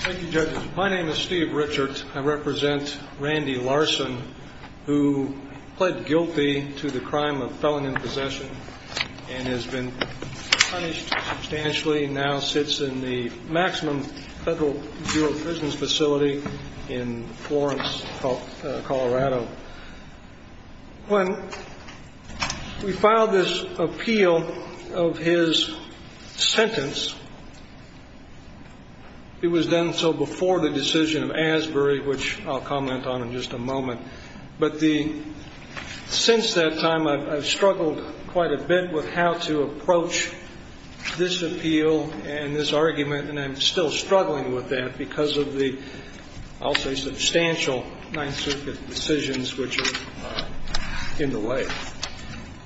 Thank you, judges. My name is Steve Richard. I represent Randy Larson, who pled guilty to the crime of felon in possession and has been punished substantially and now sits in the Maximum Federal Bureau of Prisons facility in Florence, Colorado. When we filed this appeal of his sentence, it was done so before the decision of Asbury, which I'll comment on in just a moment. But since that time, I've struggled quite a bit with how to approach this appeal and this argument, and I'm still struggling with that because of the, I'll say substantial, Ninth Circuit decisions which are in the way.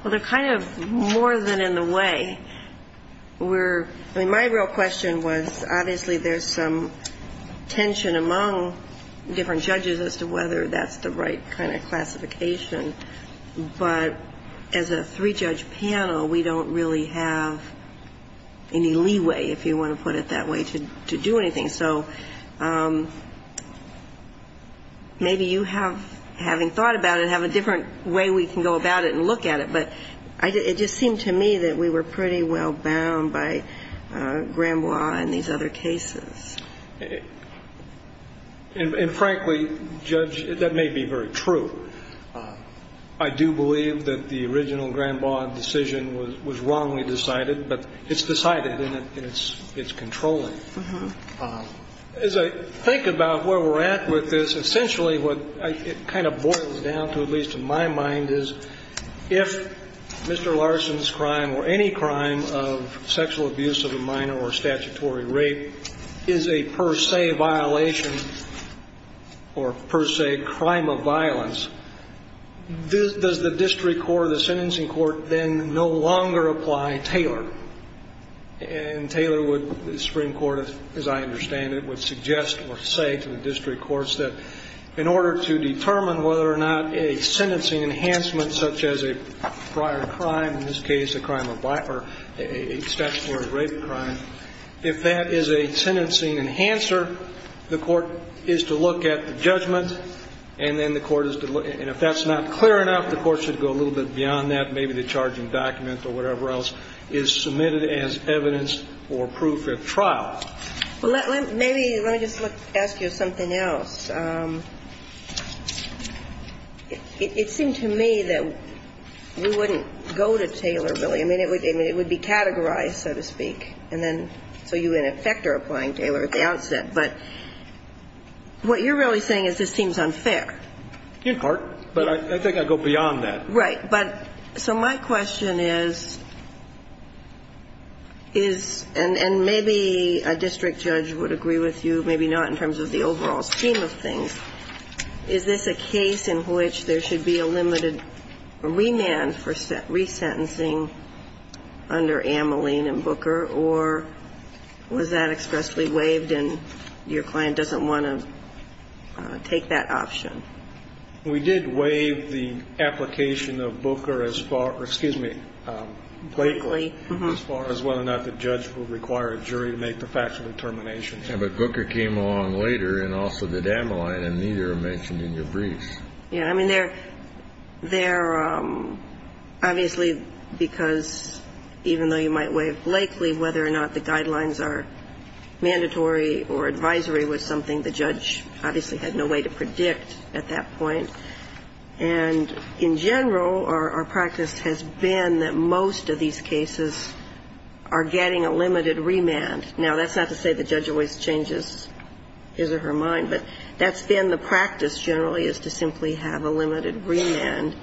Well, they're kind of more than in the way. We're – I mean, my real question was, obviously, there's some tension among different judges as to whether that's the right kind of classification. But as a three-judge panel, we don't really have any leeway, if you want to put it that way, to do anything. So maybe you have, having thought about it, have a different way we can go about it and look at it. But it just seemed to me that we were pretty well bound by Granbois and these other cases. And, frankly, Judge, that may be very true. I do believe that the original Granbois decision was wrongly decided, but it's decided and it's controlling. As I think about where we're at with this, essentially what it kind of boils down to, at least in my mind, is if Mr. Larson's crime or any crime of sexual abuse of a minor or statutory rape is a per se violation or per se crime of violence, does the district court or the sentencing court then no longer apply Taylor? And Taylor would, the Supreme Court, as I understand it, would suggest or say to the district courts that in order to determine whether or not a sentencing enhancement, such as a prior crime, in this case a crime of violence or a statutory rape crime, if that is a sentencing enhancer, the court is to look at the judgment and then the court is to look at, and if that's not clear enough, the court should go a little bit beyond that. Maybe the charging document or whatever else is submitted as evidence or proof at trial. Well, let me just ask you something else. It seemed to me that we wouldn't go to Taylor, really. I mean, it would be categorized, so to speak, and then so you in effect are applying Taylor at the outset. But what you're really saying is this seems unfair. In part, but I think I'd go beyond that. Right. But so my question is, is, and maybe a district judge would agree with you, maybe not in terms of the overall scheme of things, is this a case in which there should be a limited remand for resentencing under Ameline and Booker, or was that expressly waived and your client doesn't want to take that option? We did waive the application of Booker as far, or excuse me, Blakely, as far as whether or not the judge will require a jury to make the factual determination. Yeah, but Booker came along later, and also did Ameline, and neither are mentioned in your briefs. Yeah. I mean, they're, they're obviously because even though you might waive Blakely, whether or not the guidelines are mandatory or advisory was something the judge obviously had no way to predict at that point. And in general, our practice has been that most of these cases are getting a limited remand. Now, that's not to say the judge always changes his or her mind, but that's been the practice generally, is to simply have a limited remand.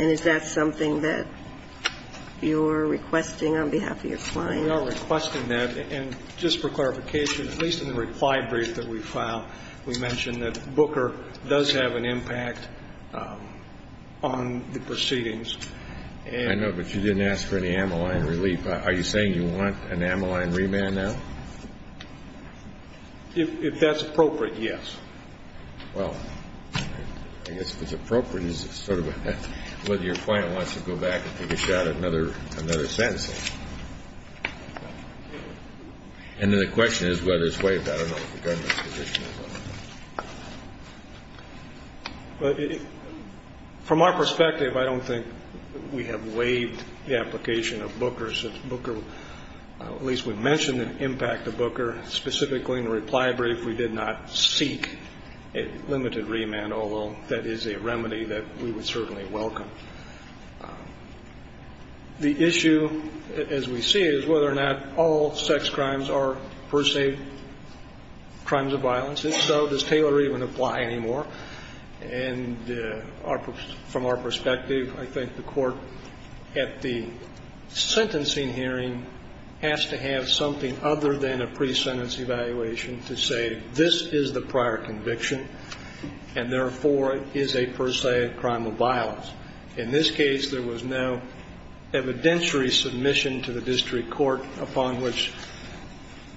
And is that something that you're requesting on behalf of your client? We are requesting that. And just for clarification, at least in the reply brief that we filed, we mentioned that Booker does have an impact on the proceedings. I know, but you didn't ask for any Ameline relief. Are you saying you want an Ameline remand now? If that's appropriate, yes. Well, I guess if it's appropriate, it's sort of a, whether your client wants to go back and take a shot at another, another sentencing. And then the question is whether it's waived. I don't know if the government's position is on that. From our perspective, I don't think we have waived the application of Booker. At least we mentioned the impact of Booker. Specifically in the reply brief, we did not seek a limited remand, although that is a remedy that we would certainly welcome. The issue, as we see it, is whether or not all sex crimes are per se crimes of violence. And so does Taylor even apply anymore? And from our perspective, I think the court at the sentencing hearing has to have something other than a pre-sentence evaluation to say this is the prior conviction In this case, there was no evidentiary submission to the district court upon which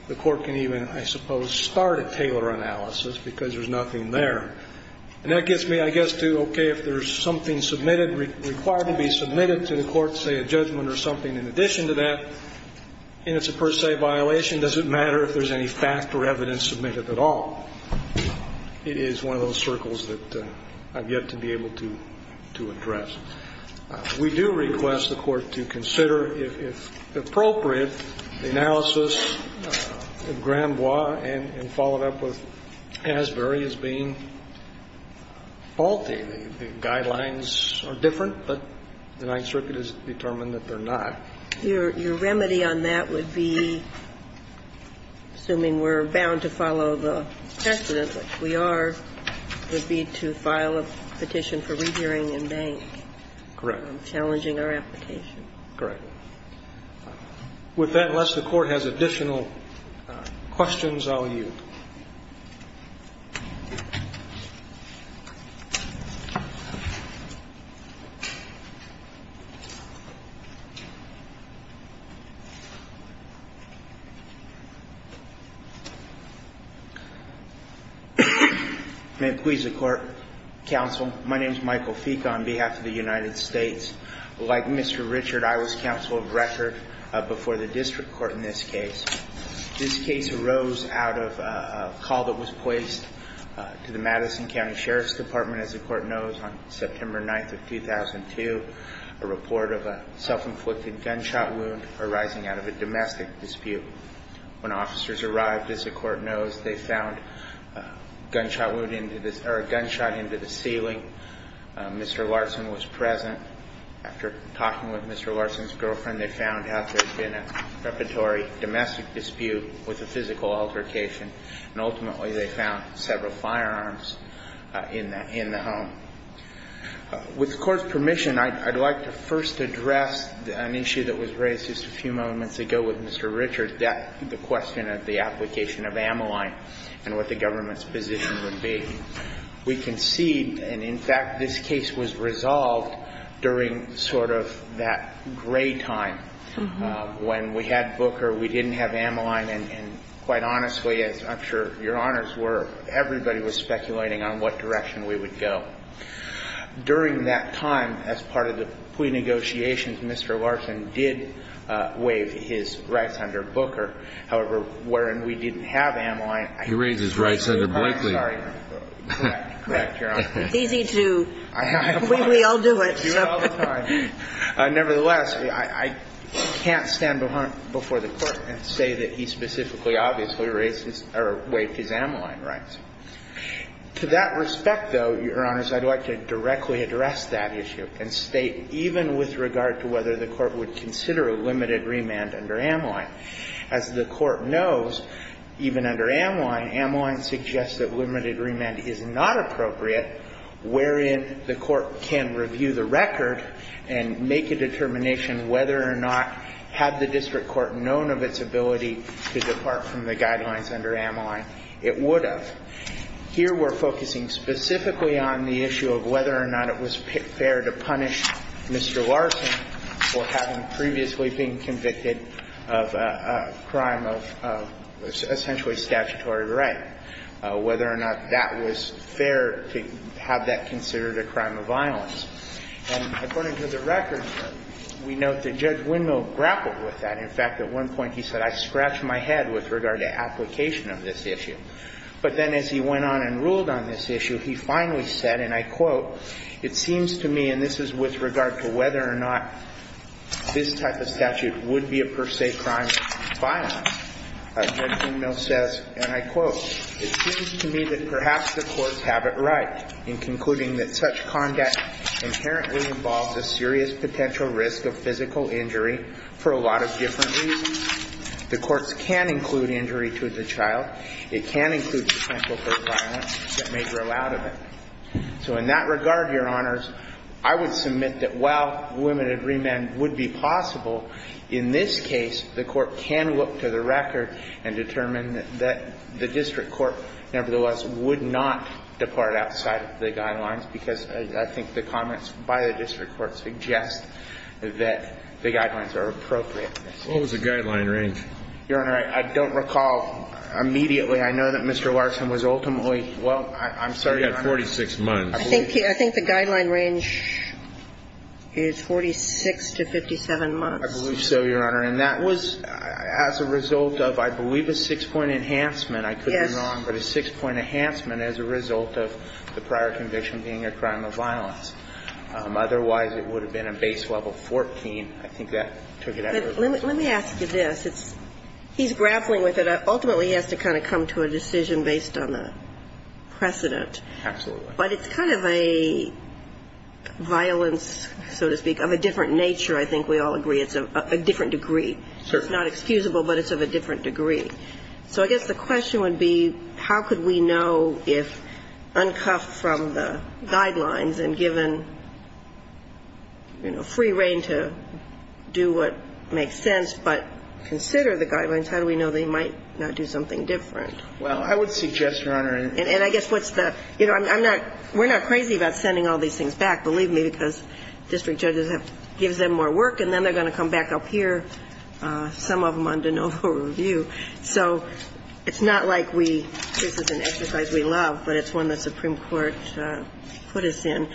the court can even, I suppose, start a Taylor analysis because there's nothing there. And that gets me, I guess, to okay, if there's something submitted, required to be submitted to the court, say a judgment or something in addition to that, and it's a per se violation, does it matter if there's any fact or evidence submitted at all? It is one of those circles that I've yet to be able to address. We do request the court to consider, if appropriate, the analysis of Granbois and followed up with Hasbury as being faulty. The guidelines are different, but the Ninth Circuit has determined that they're not. Your remedy on that would be, assuming we're bound to follow the precedent which we are, would be to file a petition for rehearing and bank. Correct. Challenging our application. Correct. With that, unless the court has additional questions, I'll you. May it please the court, counsel, my name's Michael Feek on behalf of the United States. Like Mr. Richard, I was counsel of record before the district court in this case. This case arose out of a call that was placed to the Madison County Sheriff's Department, as the court knows, on September 9th of 2002, a report of a self-inflicted gunshot wound arising out of a domestic dispute. When officers arrived, as the court knows, they found a gunshot into the ceiling. Mr. Larson was present. After talking with Mr. Larson's girlfriend, they found out there had been a perpetratory domestic dispute with a physical altercation, and ultimately, they found several firearms in the home. With the court's permission, I'd like to first address an issue that was raised just a few moments ago with Mr. Richard, that the question of the application of Amoline and what the government's position would be. We concede, and in fact, this case was resolved during sort of that gray time when we had Booker, we didn't have Amoline, and quite honestly, as I'm sure Your Honors were, everybody was speculating on what direction we would go. During that time, as part of the pre-negotiations, Mr. Larson did waive his rights under Booker, however, wherein we didn't have Amoline. He raised his rights under Blakely. I'm sorry, correct, correct, Your Honor. It's easy to, we all do it. We do it all the time. Nevertheless, I can't stand before the court and say that he specifically, obviously, raised his, or waived his Amoline rights. To that respect, though, Your Honors, I'd like to directly address that issue and state, even with regard to whether the court would consider a limited remand under Amoline, as the court knows, even under Amoline, Amoline suggests that if the district court had a record and make a determination whether or not had the district court known of its ability to depart from the guidelines under Amoline, it would have. Here, we're focusing specifically on the issue of whether or not it was fair to punish Mr. Larson for having previously been convicted of a crime of, essentially, statutory right, whether or not that was fair to have that considered a crime of violence. And according to the record, we note that Judge Windmill grappled with that. In fact, at one point, he said, I scratched my head with regard to application of this issue. But then as he went on and ruled on this issue, he finally said, and I quote, it seems to me, and this is with regard to whether or not this type of statute would be a per se crime of violence. Judge Windmill says, and I quote, it seems to me that perhaps the courts have it right in concluding that such conduct inherently involves a serious potential risk of physical injury for a lot of different reasons. The courts can include injury to the child. It can include the sample for violence that may grow out of it. So in that regard, Your Honors, I would submit that while limited remand would be possible, in this case, the court can look to the record and I think the comments by the district court suggest that the guidelines are appropriate. What was the guideline range? Your Honor, I don't recall immediately. I know that Mr. Larson was ultimately, well, I'm sorry, Your Honor. He had 46 months. I think the guideline range is 46 to 57 months. I believe so, Your Honor. And that was as a result of, I believe, a six-point enhancement. I could be wrong, but a six-point enhancement as a result of the prior conviction being a crime of violence. Otherwise, it would have been a base level 14. I think that took it out of the room. But let me ask you this. He's grappling with it. Ultimately, he has to kind of come to a decision based on the precedent. Absolutely. But it's kind of a violence, so to speak, of a different nature, I think we all agree. It's of a different degree. It's not excusable, but it's of a different degree. So I guess the question would be, how could we know if, uncuffed from the guidelines and given, you know, free reign to do what makes sense, but consider the guidelines, how do we know they might not do something different? Well, I would suggest, Your Honor, and I guess what's the – you know, I'm not – we're not crazy about sending all these things back, believe me, because district judges have – gives them more work, and then they're going to come back up here, some of them on de novo review. So it's not like we – this is an exercise we love, but it's one the Supreme Court put us in.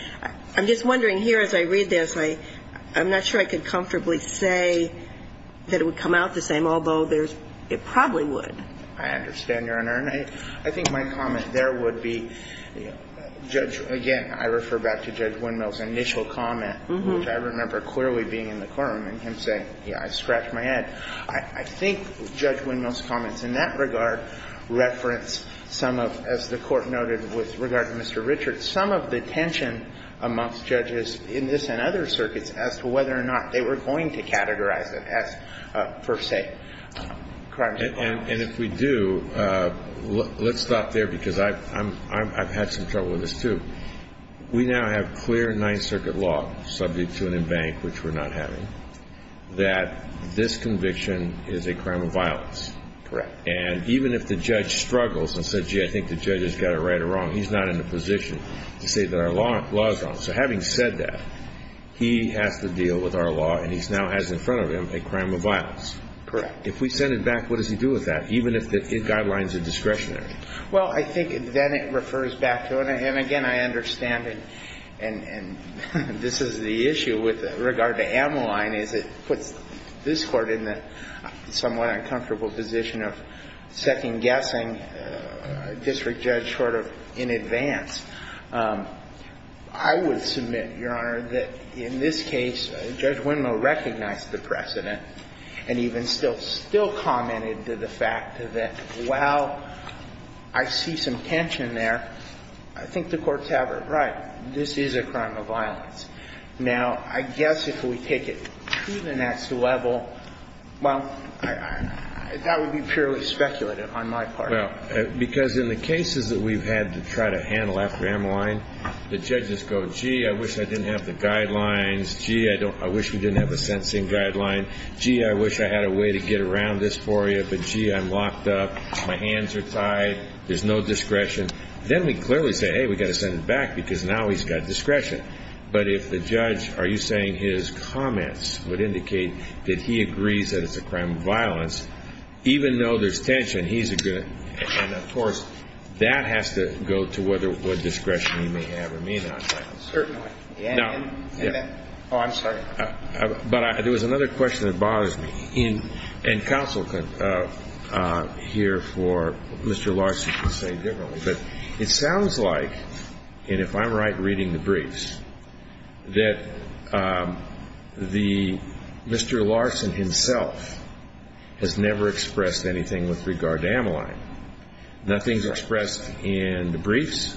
I'm just wondering here, as I read this, I'm not sure I could comfortably say that it would come out the same, although there's – it probably would. I understand, Your Honor, and I think my comment there would be, Judge – again, I refer back to Judge Windmill's initial comment, which I remember clearly being in the courtroom, and him saying, yeah, I scratched my head. I think Judge Windmill's comments in that regard reference some of – as the Court noted with regard to Mr. Richard, some of the tension amongst judges in this and other circuits as to whether or not they were going to categorize it as, per se, crimes of violence. And if we do, let's stop there, because I've had some trouble with this, too. We now have clear Ninth Circuit law, subject to an embank, which we're not having, that this conviction is a crime of violence. Correct. And even if the judge struggles and says, gee, I think the judge has got it right or wrong, he's not in a position to say that our law is wrong. So having said that, he has to deal with our law, and he now has in front of him a crime of violence. Correct. If we send it back, what does he do with that, even if the guidelines are discretionary? Well, I think then it refers back to – and again, I understand, and this is the line, is it puts this Court in the somewhat uncomfortable position of second-guessing district judge sort of in advance. I would submit, Your Honor, that in this case, Judge Winlow recognized the precedent and even still commented to the fact that, while I see some tension there, I think the courts have it right. This is a crime of violence. Now, I guess if we take it to the next level – well, that would be purely speculative on my part. Well, because in the cases that we've had to try to handle after Ammaline, the judges go, gee, I wish I didn't have the guidelines. Gee, I wish we didn't have a sentencing guideline. Gee, I wish I had a way to get around this for you. But gee, I'm locked up. My hands are tied. There's no discretion. Then we clearly say, hey, we've got to send it back because now he's got discretion. But if the judge – are you saying his comments would indicate that he agrees that it's a crime of violence, even though there's tension, he's a good – and, of course, that has to go to what discretion he may have or may not have. Certainly. Oh, I'm sorry. But there was another question that bothers me, and counsel could hear for Mr. Larson but it sounds like, and if I'm right reading the briefs, that the – Mr. Larson himself has never expressed anything with regard to Ammaline. Nothing's expressed in the briefs,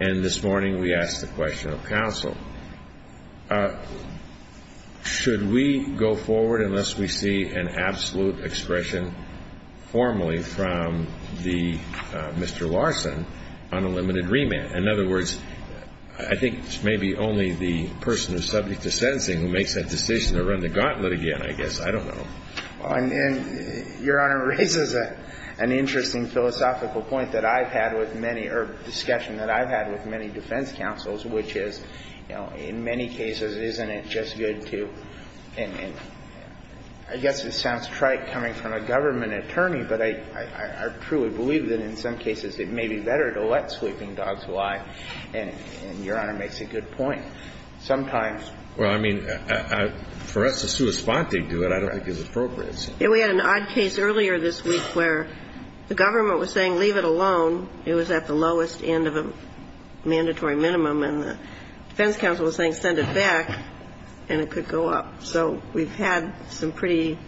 and this morning we asked the question of counsel. Should we go forward unless we see an absolute expression formally from the – Mr. Larson on a limited remand? In other words, I think it's maybe only the person who's subject to sentencing who makes that decision to run the gauntlet again, I guess. I don't know. And, Your Honor, it raises an interesting philosophical point that I've had with many – or discussion that I've had with many defense counsels, which is, you know, in many cases, isn't it just good to – and I guess it sounds trite coming from a government attorney, but I truly believe that in some cases it may be better to let sleeping dogs lie, and Your Honor makes a good point. Sometimes – Well, I mean, for us to do it, I don't think it's appropriate. We had an odd case earlier this week where the government was saying leave it alone. It was at the lowest end of a mandatory minimum, and the defense counsel was saying send it back, and it could go up. So we've had some pretty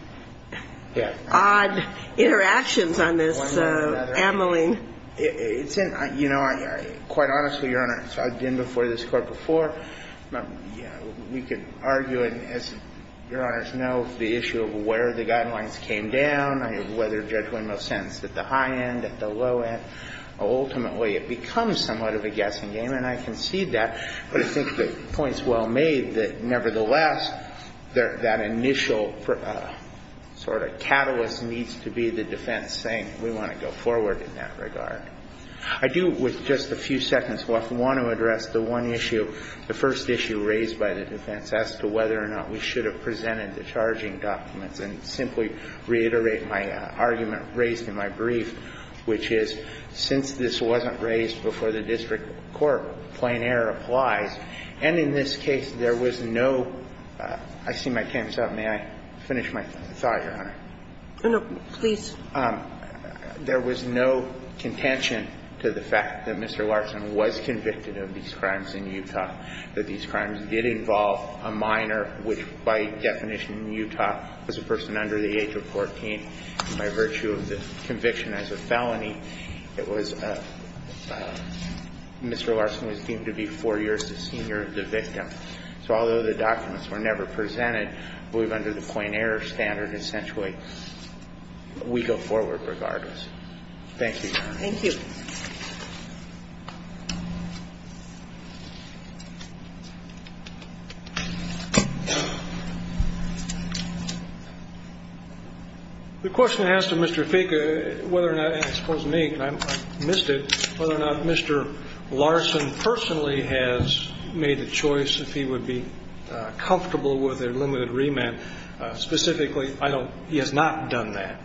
odd interactions on this amyling. One way or another, it's in – you know, quite honestly, Your Honor, I've been before this Court before. We could argue, and as Your Honors know, the issue of where the guidelines came down, whether Judge Winmo sentenced at the high end, at the low end, ultimately, it becomes somewhat of a guessing game, and I concede that, but I think the point's well made that nevertheless, that initial sort of catalyst needs to be the defense saying we want to go forward in that regard. I do, with just a few seconds left, want to address the one issue, the first issue raised by the defense as to whether or not we should have presented the charging documents and simply reiterate my argument raised in my brief, which is, since this wasn't raised before the district court, plain error applies. And in this case, there was no – I see my time's up. May I finish my thought here, Your Honor? No, please. There was no contention to the fact that Mr. Larson was convicted of these crimes in Utah, that these crimes did involve a minor which, by definition in Utah, was a person under the age of 14, and by virtue of the conviction as a felony, it was – Mr. Larson was deemed to be four years the senior of the victim. So although the documents were never presented, I believe under the plain error standard, essentially, we go forward regardless. Thank you, Your Honor. Thank you. The question asked of Mr. Ficca, whether or not – and I suppose me, because I missed it – whether or not Mr. Larson personally has made a choice if he would be comfortable with a limited remand. Specifically, I don't – he has not done that.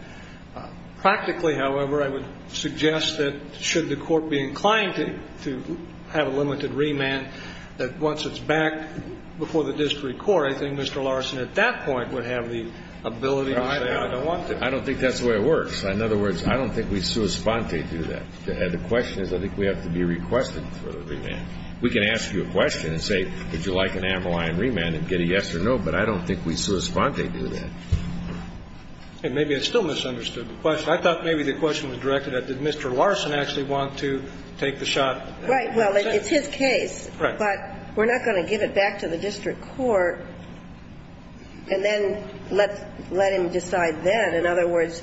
Practically, however, I would suggest that should the court be inclined to have a limited remand, that once it's backed before the district court, I think Mr. Larson at that point would have the ability to say, I don't want to. I don't think that's the way it works. In other words, I don't think we sua sponte do that. The question is, I think we have to be requested for the remand. We can ask you a question and say, would you like an ammaline remand and get a yes or no, but I don't think we sua sponte do that. And maybe I still misunderstood the question. I thought maybe the question was directed at, did Mr. Larson actually want to take the shot? Right. Well, it's his case, but we're not going to give it back to the district court and then let him decide then. In other words,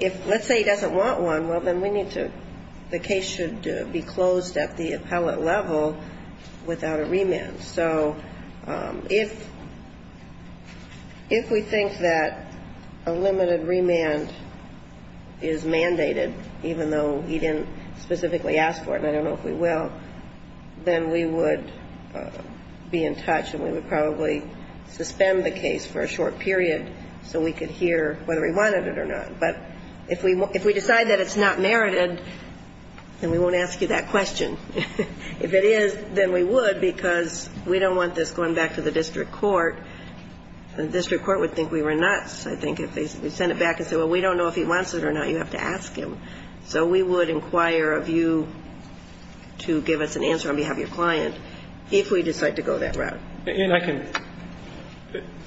if – let's say he doesn't want one, well, then we need to – the case should be closed at the appellate level without a remand. So if we think that a limited remand is mandated, even though he didn't specifically ask for it, and I don't know if we will, then we would be in touch and we would probably suspend the case for a short period so we could hear whether he wanted it or not. But if we decide that it's not merited, then we won't ask you that question. If it is, then we would, because we don't want this going back to the district court. The district court would think we were nuts, I think, if they sent it back and said, well, we don't know if he wants it or not. You have to ask him. So we would inquire of you to give us an answer on behalf of your client if we decide to go that route. And I can,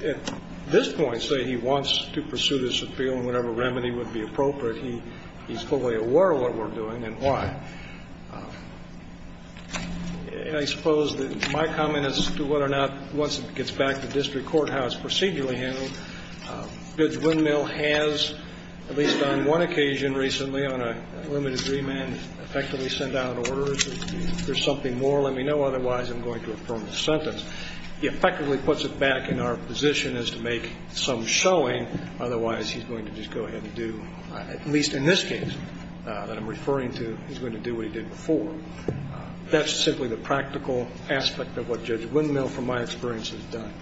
at this point, say he wants to pursue this appeal in whatever remedy would be appropriate. He's fully aware of what we're doing and why. I suppose that my comment as to whether or not, once it gets back to district courthouse procedurally handled, Judge Windmill has, at least on one occasion on a limited remand, effectively sent out orders that if there's something more, let me know. Otherwise, I'm going to affirm the sentence. He effectively puts it back in our position as to make some showing. Otherwise, he's going to just go ahead and do, at least in this case that I'm referring to, he's going to do what he did before. That's simply the practical aspect of what Judge Windmill, from my experience, has done.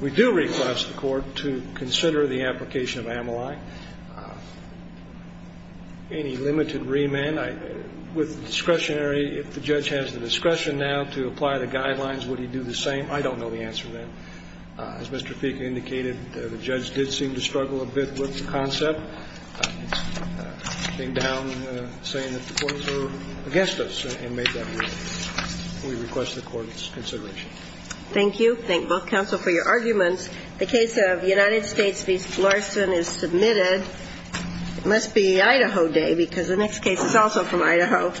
We do request the Court to consider the application of Ameli. Any limited remand, with discretionary, if the judge has the discretion now to apply the guidelines, would he do the same? I don't know the answer to that. As Mr. Fieke indicated, the judge did seem to struggle a bit with the concept, came down saying that the courts were against us and made that rule. We request the Court's consideration. Thank you. Thank both counsel for your arguments. The case of United States v. Larson is submitted. It must be Idaho day because the next case is also from Idaho.